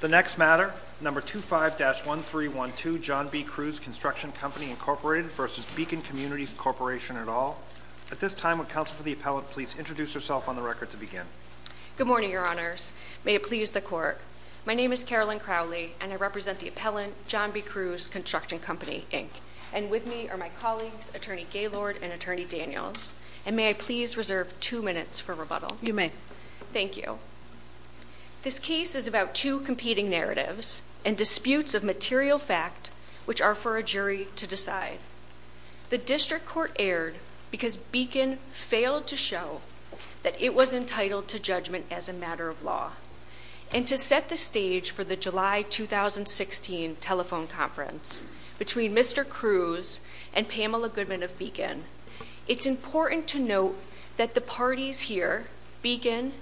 The next matter, No. 25-1312, John B. Cruz Construction Co., Inc. v. Beacon Communities Corp. et al. At this time, would Counsel for the Appellant please introduce herself on the record to begin? Good morning, Your Honors. May it please the Court. My name is Carolyn Crowley, and I represent the Appellant, John B. Cruz Construction Company, Inc., and with me are my colleagues, Attorney Gaylord and Attorney Daniels, and may I please reserve two minutes for rebuttal? You may. Thank you. This case is about two competing narratives and disputes of material fact which are for a jury to decide. The District Court erred because Beacon failed to show that it was entitled to judgment as a matter of law, and to set the stage for the July 2016 telephone conference between Mr. Cruz and Pamela Goodman of Beacon, it's important to note that the authorities here, Beacon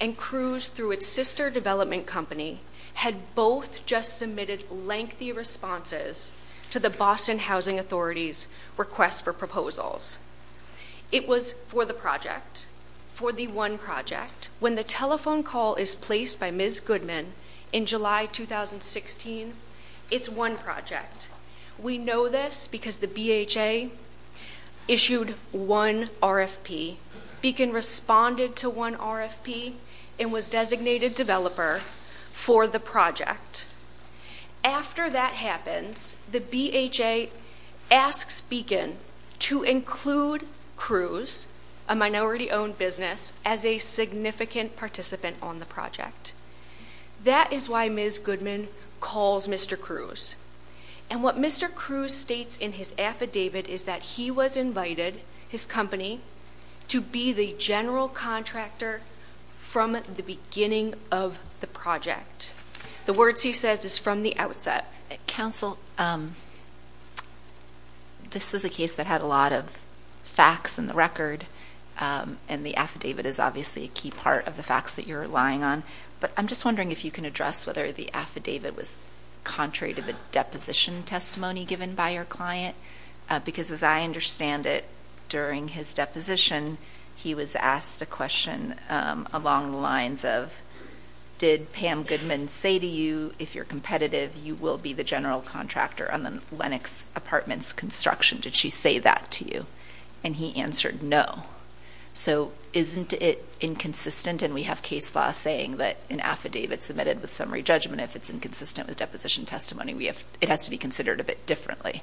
and Cruz through its sister development company, had both just submitted lengthy responses to the Boston Housing Authority's request for proposals. It was for the project, for the one project. When the telephone call is placed by Ms. Goodman in July 2016, it's one project. We know this because the BHA issued one RFP, Beacon responded to one RFP, and was designated developer for the project. After that happens, the BHA asks Beacon to include Cruz, a minority owned business, as a significant participant on the project. That is why Ms. Goodman calls Mr. Cruz, and what Mr. Cruz states in his statement, a general contractor from the beginning of the project. The words he says is from the outset. Counsel, this was a case that had a lot of facts in the record, and the affidavit is obviously a key part of the facts that you're relying on, but I'm just wondering if you can address whether the affidavit was contrary to the deposition testimony given by your client, because as I understand it, during his deposition, he was asked a question along the lines of, did Pam Goodman say to you, if you're competitive, you will be the general contractor on the Lenox Apartments construction? Did she say that to you? And he answered no. So isn't it inconsistent, and we have case law saying that an affidavit submitted with summary judgment, if it's inconsistent with deposition testimony, it has to be considered a bit differently.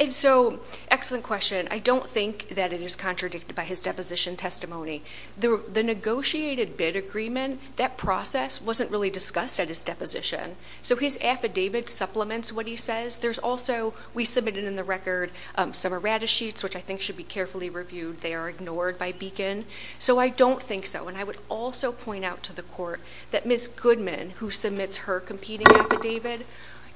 And so, excellent question. I don't think that it is contradicted by his deposition testimony. The negotiated bid agreement, that process wasn't really discussed at his deposition. So his affidavit supplements what he says. There's also, we submitted in the record, some errata sheets, which I think should be carefully reviewed. They are ignored by Beacon. So I don't think so, and I would also point out to the court that Ms. Goodman, who submits her competing affidavit,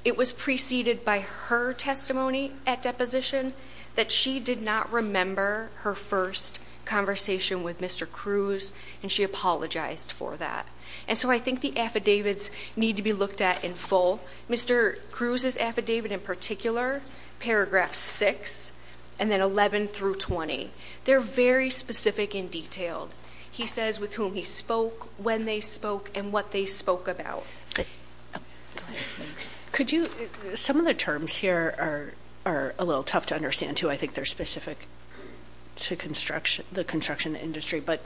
it was preceded by her testimony at deposition, that she did not remember her first conversation with Mr. Cruz, and she apologized for that. And so I think the affidavits need to be looked at in full. Mr. Cruz's affidavit in particular, paragraph six, and then 11 through 20, they're very specific and detailed. He says with whom he spoke, when they spoke, and what they spoke about. Some of the terms here are a little tough to understand, too. I think they're specific to the construction industry. But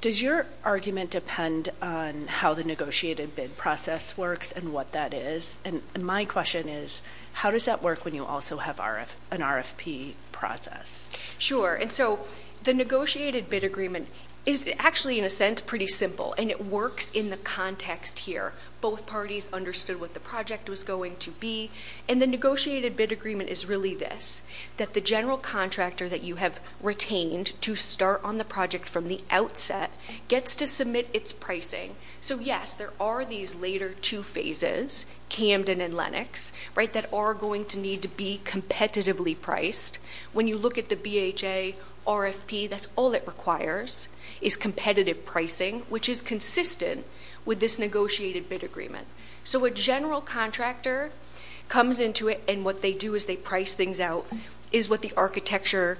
does your argument depend on how the negotiated bid process works and what that is? And my question is, how does that work when you also have an RFP process? Sure. And so the negotiated bid agreement is actually, in a sense, pretty simple, and it works in the context here. Both parties understood what the project was going to be. And the negotiated bid agreement is really this, that the general contractor that you have retained to start on the project from the outset gets to submit its pricing. So yes, there are these later two phases, Camden and Lenox, right, that are going to need to be competitively priced. When you look at the BHA RFP, that's all it requires, is competitive pricing, which is consistent with this negotiated bid agreement. So a general contractor comes into it, and what they do is they price things out, is what the architectural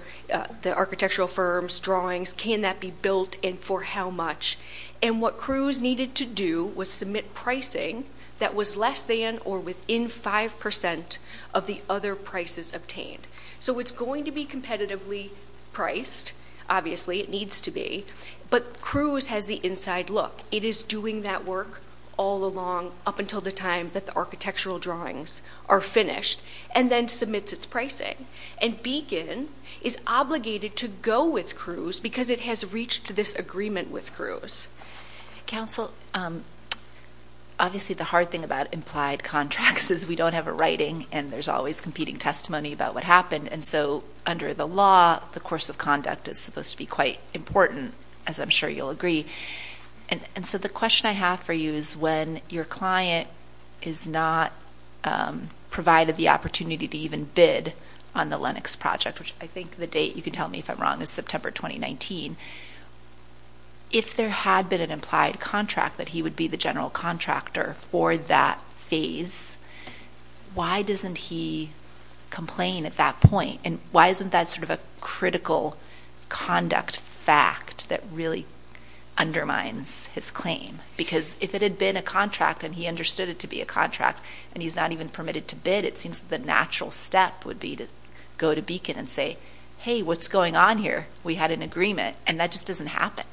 firms, drawings, can that be built, and for how much. And what Cruz needed to do was submit pricing that was less than or within 5% of the other prices obtained. So it's going to be competitively priced, obviously, it needs to be, but Cruz has the inside look. It is doing that work all along, up until the time that the architectural drawings are finished, and then submits its pricing. And Beacon is obligated to go with Cruz because it has reached this agreement with Cruz. Council, obviously, the hard thing about implied contracts is we don't have a writing, and there's always competing testimony about what happened. And so under the law, the course of conduct is supposed to be quite important, as I'm sure you'll agree. And so the question I have for you is when your client is not provided the opportunity to even bid on the for 2019, if there had been an implied contract that he would be the general contractor for that phase, why doesn't he complain at that point? And why isn't that sort of a critical conduct fact that really undermines his claim? Because if it had been a contract and he understood it to be a contract, and he's not even permitted to bid, it seems that the natural step would be to go to Beacon and say, hey, what's going on here? We had an agreement. And that just doesn't happen.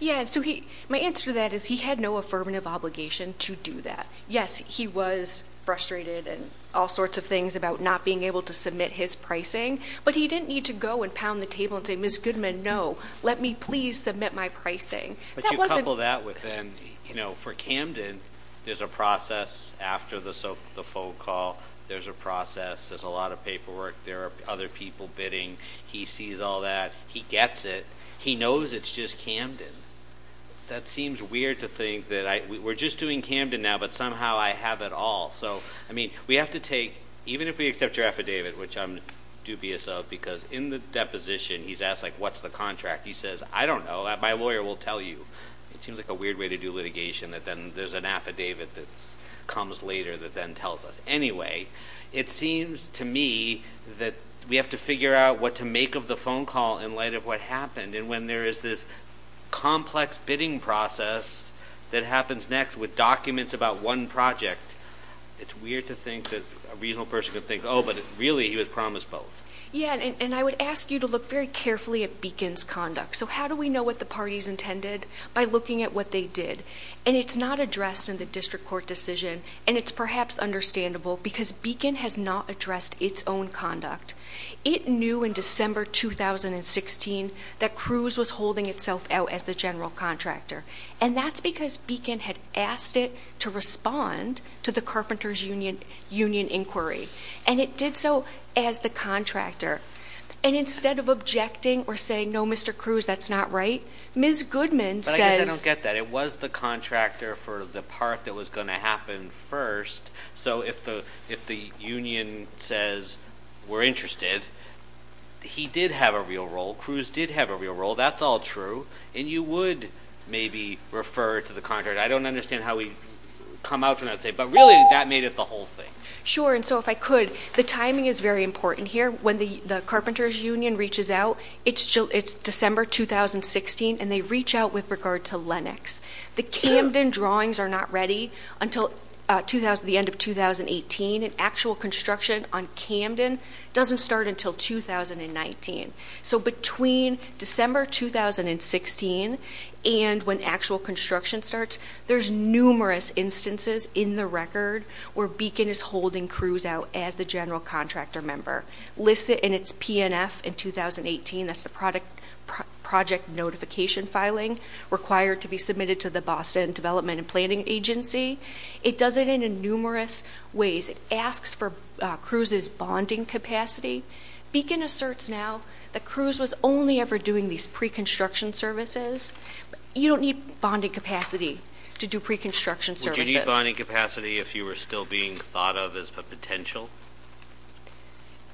Yeah, so my answer to that is he had no affirmative obligation to do that. Yes, he was frustrated in all sorts of things about not being able to submit his pricing, but he didn't need to go and pound the table and say, Ms. Goodman, no, let me please submit my pricing. But you couple that with, you know, for Camden, there's a process after the phone call. There's a process. There's a lot of paperwork. There are other people bidding. He sees all that. He gets it. He knows it's just Camden. That seems weird to think that we're just doing Camden now, but somehow I have it all. So, I mean, we have to take, even if we accept your affidavit, which I'm dubious of, because in the deposition, he's asked, like, what's the contract? He says, I don't know. My lawyer will tell you. It seems like a weird way to do litigation that then there's an affidavit that comes later that then tells us. Anyway, it seems to me that we have to figure out what to make of the phone call in light of what happened, and when there is this complex bidding process that happens next with documents about one project, it's weird to think that a reasonable person could think, oh, but really he was promised both. Yeah, and I would ask you to look very carefully at Beacon's conduct. So how do we know what the party's intended? By looking at what they did, and it's not addressed in the district court decision, and it's perhaps understandable because Beacon has not addressed its own conduct. It knew in December 2016 that Cruz was holding itself out as the general contractor, and that's because Beacon had asked it to respond to the Carpenter's Union inquiry, and it did so as the contractor, and instead of objecting or saying, no, Mr. Cruz, that's not right, Ms. Goodman says. But I guess I don't get that. It was the contractor for the part that was going to happen first, so if the union says we're interested, he did have a real role. Cruz did have a real role. That's all true, and you would maybe refer to the contractor. I don't understand how we come out from that, but really that made it the whole thing. Sure, and so if I could, the timing is very important here. When the Carpenter's Union reaches out, it's December 2016, and they reach out with regard to Lenox. The Camden drawings are not ready until the end of 2018, and actual construction on Camden doesn't start until 2019. So between December 2016 and when actual construction starts, there's numerous instances in the record where Beacon is holding Cruz out as the general contractor member, listed in its PNF in 2018. That's the project notification filing required to be submitted to the Boston Development and Planning Agency. It does it in numerous ways. It asks for Cruz's bonding capacity. Beacon asserts now that Cruz was only ever doing these pre-construction services. You don't need bonding capacity to do pre-construction services. Would you need bonding capacity if you were still being thought of as a potential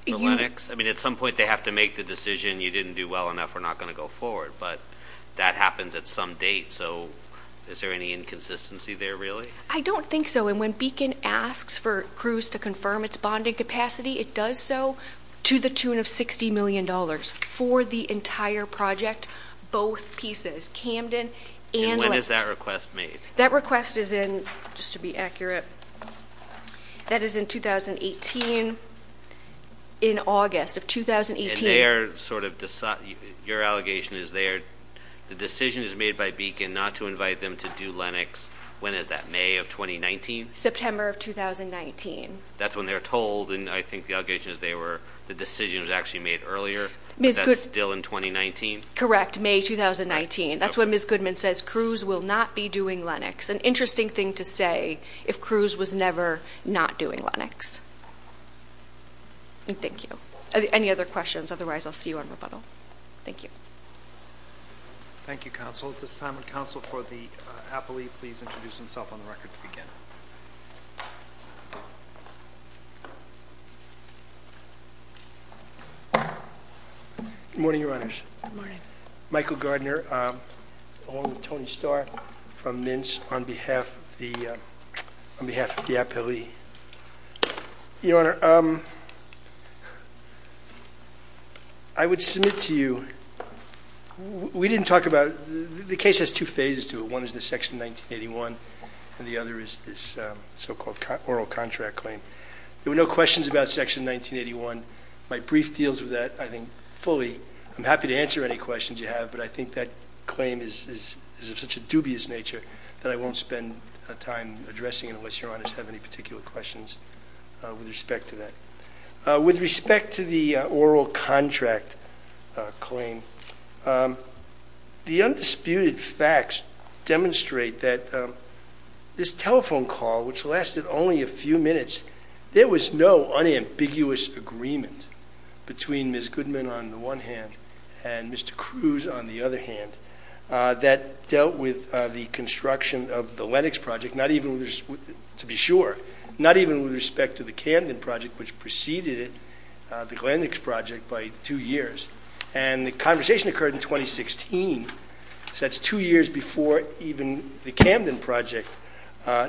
for Lenox? I mean, at some point they have to make the decision, you didn't do well enough, we're not going to go forward, but that happens at some date. So is there any inconsistency there, really? I don't think so, and when Beacon asks for Cruz to confirm its bonding capacity, it does so to the tune of $60 million for the entire project, both pieces, Camden and Lenox. And when is that request made? That request is in, just to be accurate, that is in 2018, in August of 2018. And they are sort of, your allegation is they are, the decision is made by Beacon not to invite them to do Lenox, when is that, May of 2019? September of 2019. That's when they're told, and I think the allegation is they were, the decision was actually made earlier, but that's still in 2019? Correct, May 2019. That's when Ms. Goodman says Cruz will not be doing Lenox. An interesting thing to say, if Cruz was never not doing Lenox. Thank you. Any other questions? Otherwise I'll see you on rebuttal. Thank you. Thank you, counsel. At this time, would counsel for the appellee please introduce himself on the record to begin. Good morning, your honors. Good morning. Michael Gardner, along with Tony Starr from Mince on behalf of the, on behalf of the appellee. Your honor, I would submit to you, we didn't talk about, the case has two phases to it. One is the section 1981 and the other is this so-called oral contract claim. There were no questions about section 1981. My brief deals with that, I think fully, I'm happy to answer any questions you have, but I think that claim is of such a dubious nature that I won't spend time addressing it unless your honors have any particular questions with respect to that. With respect to the oral contract claim, the undisputed facts demonstrate that this telephone call, which lasted only a few minutes, there was no unambiguous agreement between Ms. Goodman on the one hand and Mr. Cruz on the other hand, that dealt with the construction of the Lenox project, not even with, to be sure, not even with respect to the Camden project which preceded it, the Lenox project, by two years. And the conversation occurred in 2016, so that's two years before even the Camden project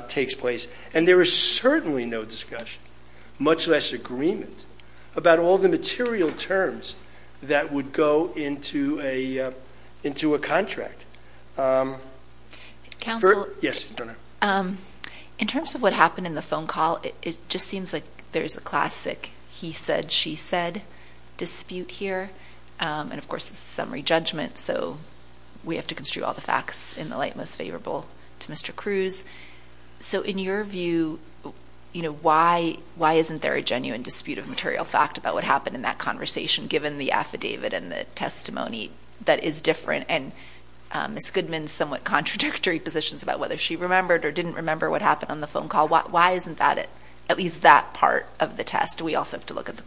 takes place. And there was certainly no discussion, much less agreement, about all the material terms that would go into a, into a contract. Counsel. Yes, your honor. In terms of what happened in the phone call, it just seems like there's a classic he said, she said dispute here. And of course, this is a summary judgment, so we have to construe all the facts in the light most favorable to Mr. Cruz. So in your view, you know, why, why isn't there a genuine dispute of material fact about what happened in that conversation given the affidavit and the testimony that is different and Ms. Goodman's somewhat contradictory positions about whether she remembered or didn't remember what happened on the phone call, why isn't that, at least that part of the test? We also have to look at the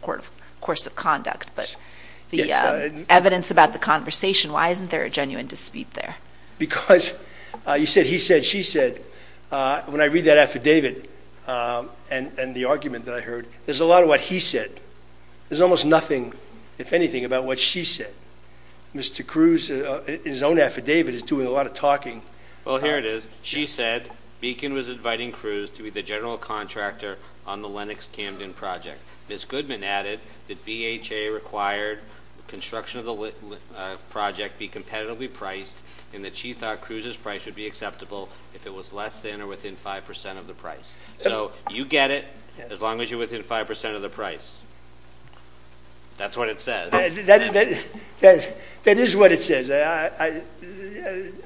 course of conduct, but the evidence about the conversation, why isn't there a genuine dispute there? Because you said he said, she said. When I read that affidavit and the argument that I heard, there's a lot of what he said. There's almost nothing, if anything, about what she said. Mr. Cruz, in his own affidavit, is doing a lot of talking. Well, here it is. She said, Beacon was inviting Cruz to be the general contractor on the Lenox Camden project. Ms. Goodman added that BHA required construction of the project be competitively priced and that she thought Cruz's price would be acceptable if it was less than or within 5% of the price. So you get it, as long as you're within 5% of the price. That's what it says. That is what it says. I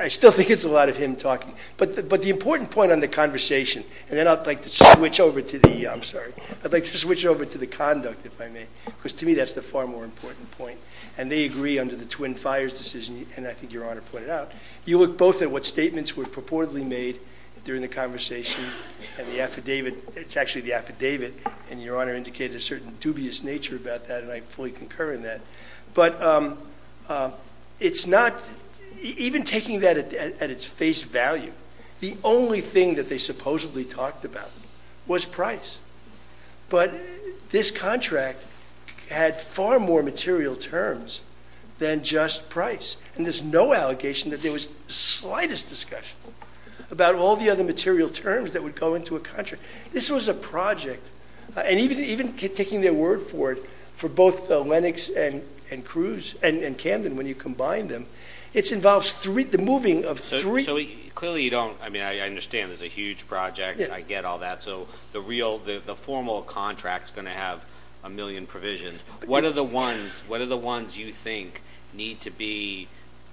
still think it's a lot of him talking, but the important point on the conversation, and then I'd like to switch over to the, I'm sorry, I'd like to switch over to the conduct, if I may, because to me, that's the far more important point. And they agree under the Twin Fires decision, and I think your Honor pointed out, you look both at what statements were purportedly made during the conversation and the affidavit. It's actually the affidavit and your Honor indicated a certain dubious nature about that and I fully concur in that. But it's not, even taking that at its face value, the only thing that they supposedly talked about was price. But this contract had far more material terms than just price. And there's no allegation that there was slightest discussion about all the other material terms that would go into a contract. This was a project, and even taking their word for it, for both Lennox and Cruz, and Camden when you combine them, it involves the moving of three- So clearly you don't, I mean I understand there's a huge project, I get all that, so the real, the formal contract's going to have a million provisions. What are the ones, what are the ones you think need to be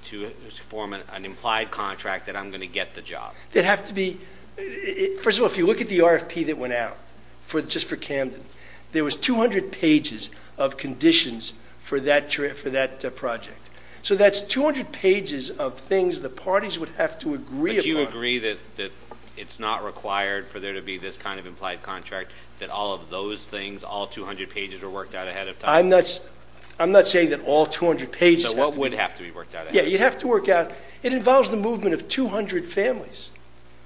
to form an implied contract that I'm going to get the job? That have to be, first of all, if you look at the RFP that went out, just for Camden, there was 200 pages of conditions for that project. So that's 200 pages of things the parties would have to agree upon. But you agree that it's not required for there to be this kind of implied contract, that all of those things, all 200 pages were worked out ahead of time? I'm not saying that all 200 pages have to be- So what would have to be worked out ahead of time? Yeah, you'd have to work out, it involves the movement of 200 families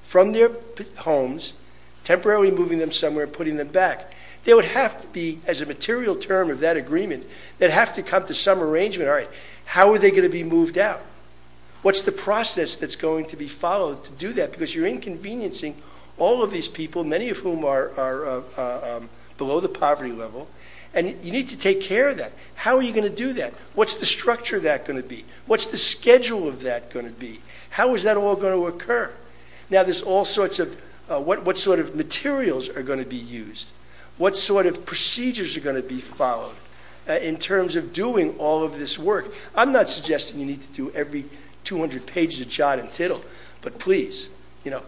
from their homes, temporarily moving them somewhere and putting them back. They would have to be, as a material term of that agreement, they'd have to come to some arrangement, all right, how are they going to be moved out? What's the process that's going to be followed to do that? Because you're inconveniencing all of these people, many of whom are below the poverty level, and you need to take care of that. How are you going to do that? What's the structure that going to be? What's the schedule of that going to be? How is that all going to occur? Now there's all sorts of, what sort of materials are going to be used? What sort of procedures are going to be followed in terms of doing all of this work? I'm not suggesting you need to do every 200 pages of jot and tittle, but please, you know,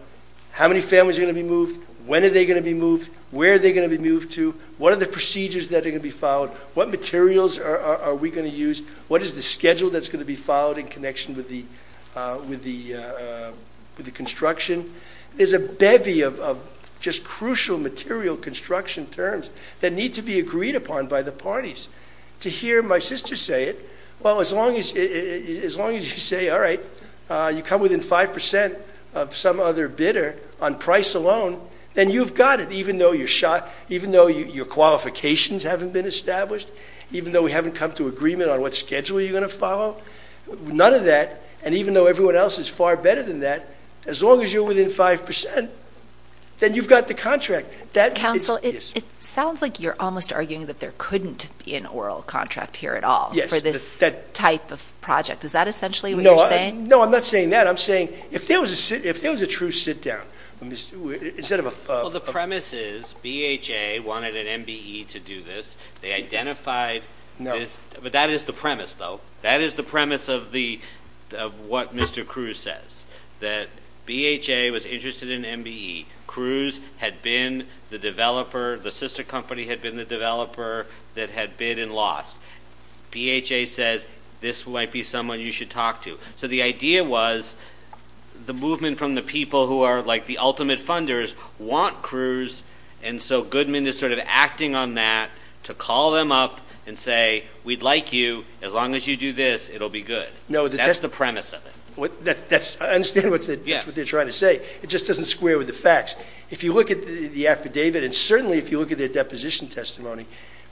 how many families are going to be moved? When are they going to be moved? Where are they going to be moved to? What are the procedures that are going to be followed? What materials are we going to use? What is the schedule that's going to be followed in connection with the construction? There's a bevy of just crucial material construction terms that need to be agreed upon by the parties. To hear my sister say it, well, as long as you say, all right, you come within 5% of some other bidder on price alone, then you've got it, even though your qualifications haven't been established, even though we haven't come to agreement on what schedule you're going to follow, none of that, and even though everyone else is far better than that, as long as you're within 5%, then you've got the contract. Counsel, it sounds like you're almost arguing that there couldn't be an oral contract here at all for this type of project. Is that essentially what you're saying? No, I'm not saying that. I'm saying if there was a true sit down, instead of a... Well, the premise is, BHA wanted an MBE to do this. They identified this, but that is the premise, though. That is the premise of what Mr. Cruz says, that BHA was interested in MBE. Cruz had been the developer. The sister company had been the developer that had bid and lost. BHA says, this might be someone you should talk to. So the idea was, the movement from the people who are like the ultimate funders want Cruz, and so Goodman is sort of acting on that to call them up and say, we'd like you, as long as you do this, it'll be good. That's the premise of it. I understand what they're trying to say. It just doesn't square with the facts. If you look at the affidavit, and certainly if you look at their deposition testimony,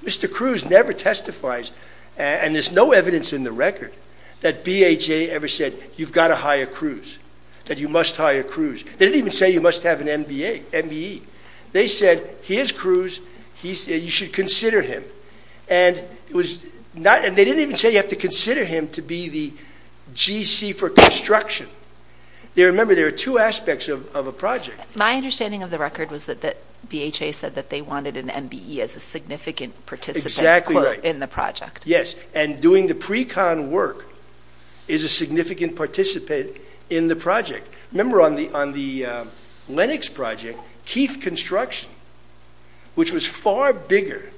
Mr. Cruz never testifies, and there's no evidence in the record, that BHA ever said, you've got to hire Cruz, that you must hire Cruz. They didn't even say you must have an MBE. They said, here's Cruz, you should consider him. And they didn't even say you have to consider him to be the GC for construction. Remember, there are two aspects of a project. My understanding of the record was that BHA said that they wanted an MBE as a significant participant in the project. Yes, and doing the pre-con work is a significant participant in the project. Remember on the Lenox project, Keith Construction, which was far bigger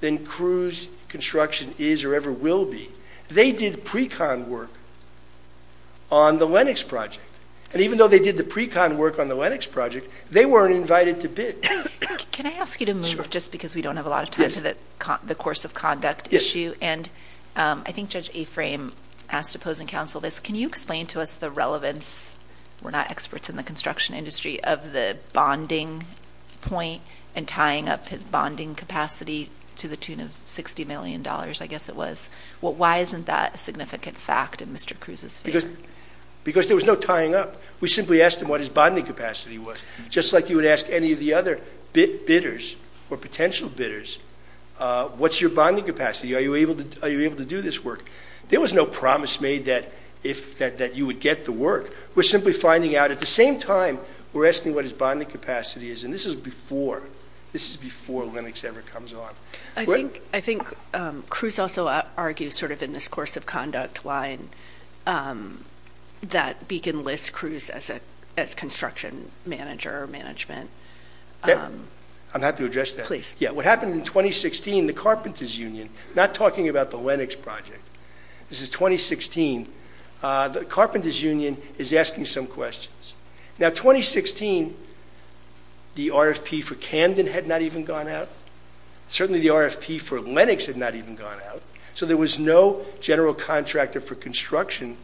than Cruz Construction is or ever will be, they did pre-con work on the Lenox project. And even though they did the pre-con work on the Lenox project, they weren't invited to bid. Can I ask you to move just because we don't have a lot of time for the course of conduct issue, and I think Judge Aframe asked to pose and counsel this. Can you explain to us the relevance, we're not experts in the construction industry, of the bonding point and tying up his bonding capacity to the tune of $60 million, I guess it was. Why isn't that a significant fact in Mr. Cruz's favor? Because there was no tying up. We simply asked him what his bonding capacity was. Just like you would ask any of the other bidders or potential bidders, what's your bonding capacity? Are you able to do this work? There was no promise made that you would get the work. We're simply finding out at the same time, we're asking what his bonding capacity is, and this is before Lenox ever comes on. I think Cruz also argues in this course of conduct line that Beacon lists Cruz as construction manager or management. I'm happy to address that. What happened in 2016, the Carpenter's Union, not talking about the Lenox project, this is 2016, the Carpenter's Union is asking some questions. Now, 2016, the RFP for Camden had not even gone out. Certainly the RFP for Lenox had not even gone out. So there was no general contractor for construction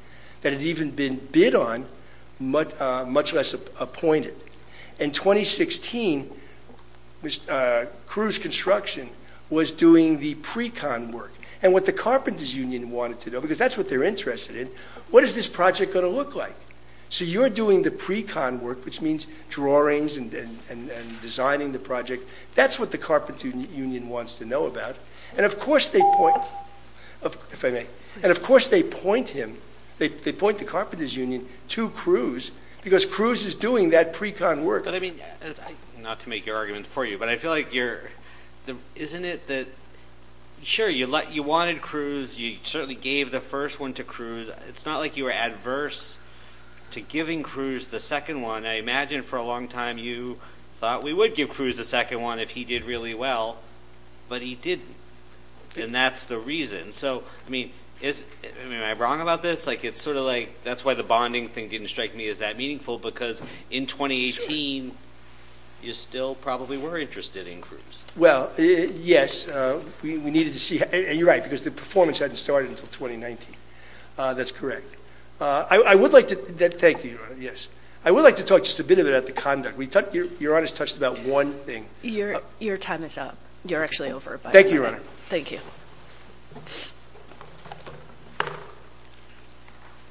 that had even been bid on, much less appointed. In 2016, Cruz Construction was doing the pre-con work. And what the Carpenter's Union wanted to know, because that's what they're interested in, what is this project going to look like? So you're doing the pre-con work, which means drawings and designing the project. That's what the Carpenter's Union wants to know about. And of course they point the Carpenter's Union to Cruz, because Cruz is doing that pre-con work. But I mean, not to make your argument for you, but I feel like you're, isn't it that, sure, you wanted Cruz, you certainly gave the first one to Cruz. It's not like you were adverse to giving Cruz the second one. I imagine for a long time you thought we would give him the second one if he did really well, but he didn't. And that's the reason. So, I mean, am I wrong about this? Like it's sort of like, that's why the bonding thing didn't strike me as that meaningful, because in 2018 you still probably were interested in Cruz. Well, yes. We needed to see, and you're right, because the performance hadn't started until 2019. That's correct. I would like to, thank you, Your Honor, yes. I would like to talk a bit about the conduct. Your Honor's touched about one thing. Your time is up. You're actually over. Thank you, Your Honor. Thank you.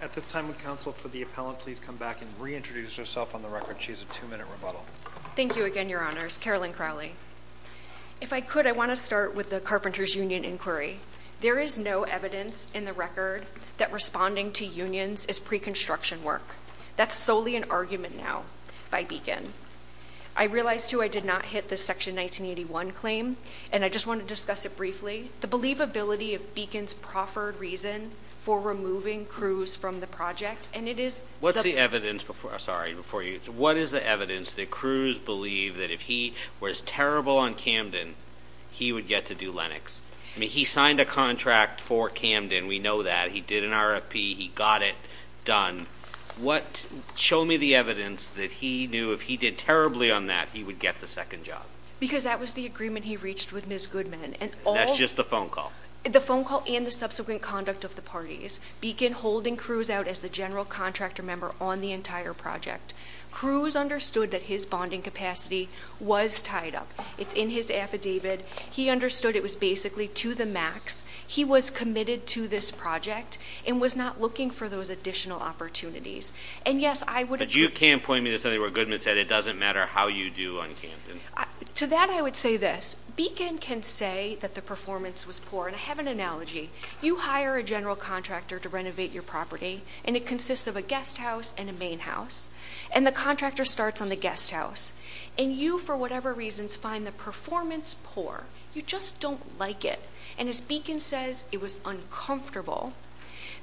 At this time, would counsel for the appellant please come back and reintroduce herself on the record. She has a two minute rebuttal. Thank you again, Your Honors. Carolyn Crowley. If I could, I want to start with the Carpenter's Union inquiry. There is no evidence in the record that responding to unions is pre-construction work. That's solely an argument now by Beacon. I realize, too, I did not hit the Section 1981 claim, and I just want to discuss it briefly. The believability of Beacon's proffered reason for removing Cruz from the project, and it is- What's the evidence before, sorry, before you, what is the evidence that Cruz believed that if he was terrible on Camden, he would get to do Lennox? I mean, he signed a contract for Camden. We know that. He did an RFP. He got it done. Show me the evidence that he knew if he did terribly on that, he would get the second job. Because that was the agreement he reached with Ms. Goodman, and all- That's just the phone call. The phone call and the subsequent conduct of the parties. Beacon holding Cruz out as the general contractor member on the entire project. Cruz understood that his bonding capacity was tied up. It's in his affidavit. He understood it was basically to the max. He was committed to this project and was not looking for those additional opportunities, and yes, I would- But you can't point me to something where Goodman said it doesn't matter how you do on Camden. To that, I would say this. Beacon can say that the performance was poor, and I have an analogy. You hire a general contractor to renovate your property, and it consists of a guest house and a main house, and the contractor starts on the guest house, and you, for whatever reasons, find the performance poor. You just don't like it, and as Beacon says, it was uncomfortable.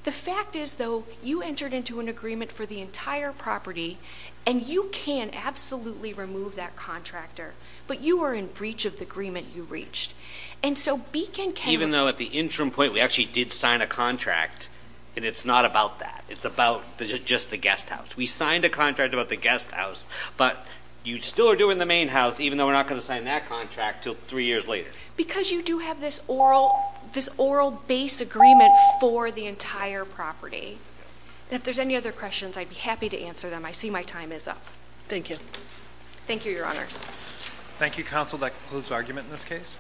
The fact is, though, you entered into an agreement for the entire property, and you can absolutely remove that contractor, but you are in breach of the agreement you reached. And so Beacon can- Even though at the interim point, we actually did sign a contract, and it's not about that. It's about just the guest house. We signed a contract about the guest house, but you still are doing the main house, even though we're not going to sign that contract until three years later. Because you do have this oral base agreement for the entire property. And if there's any other questions, I'd be happy to answer them. I see my time is up. Thank you. Thank you, Your Honors. Thank you, Counsel. That concludes argument in this case.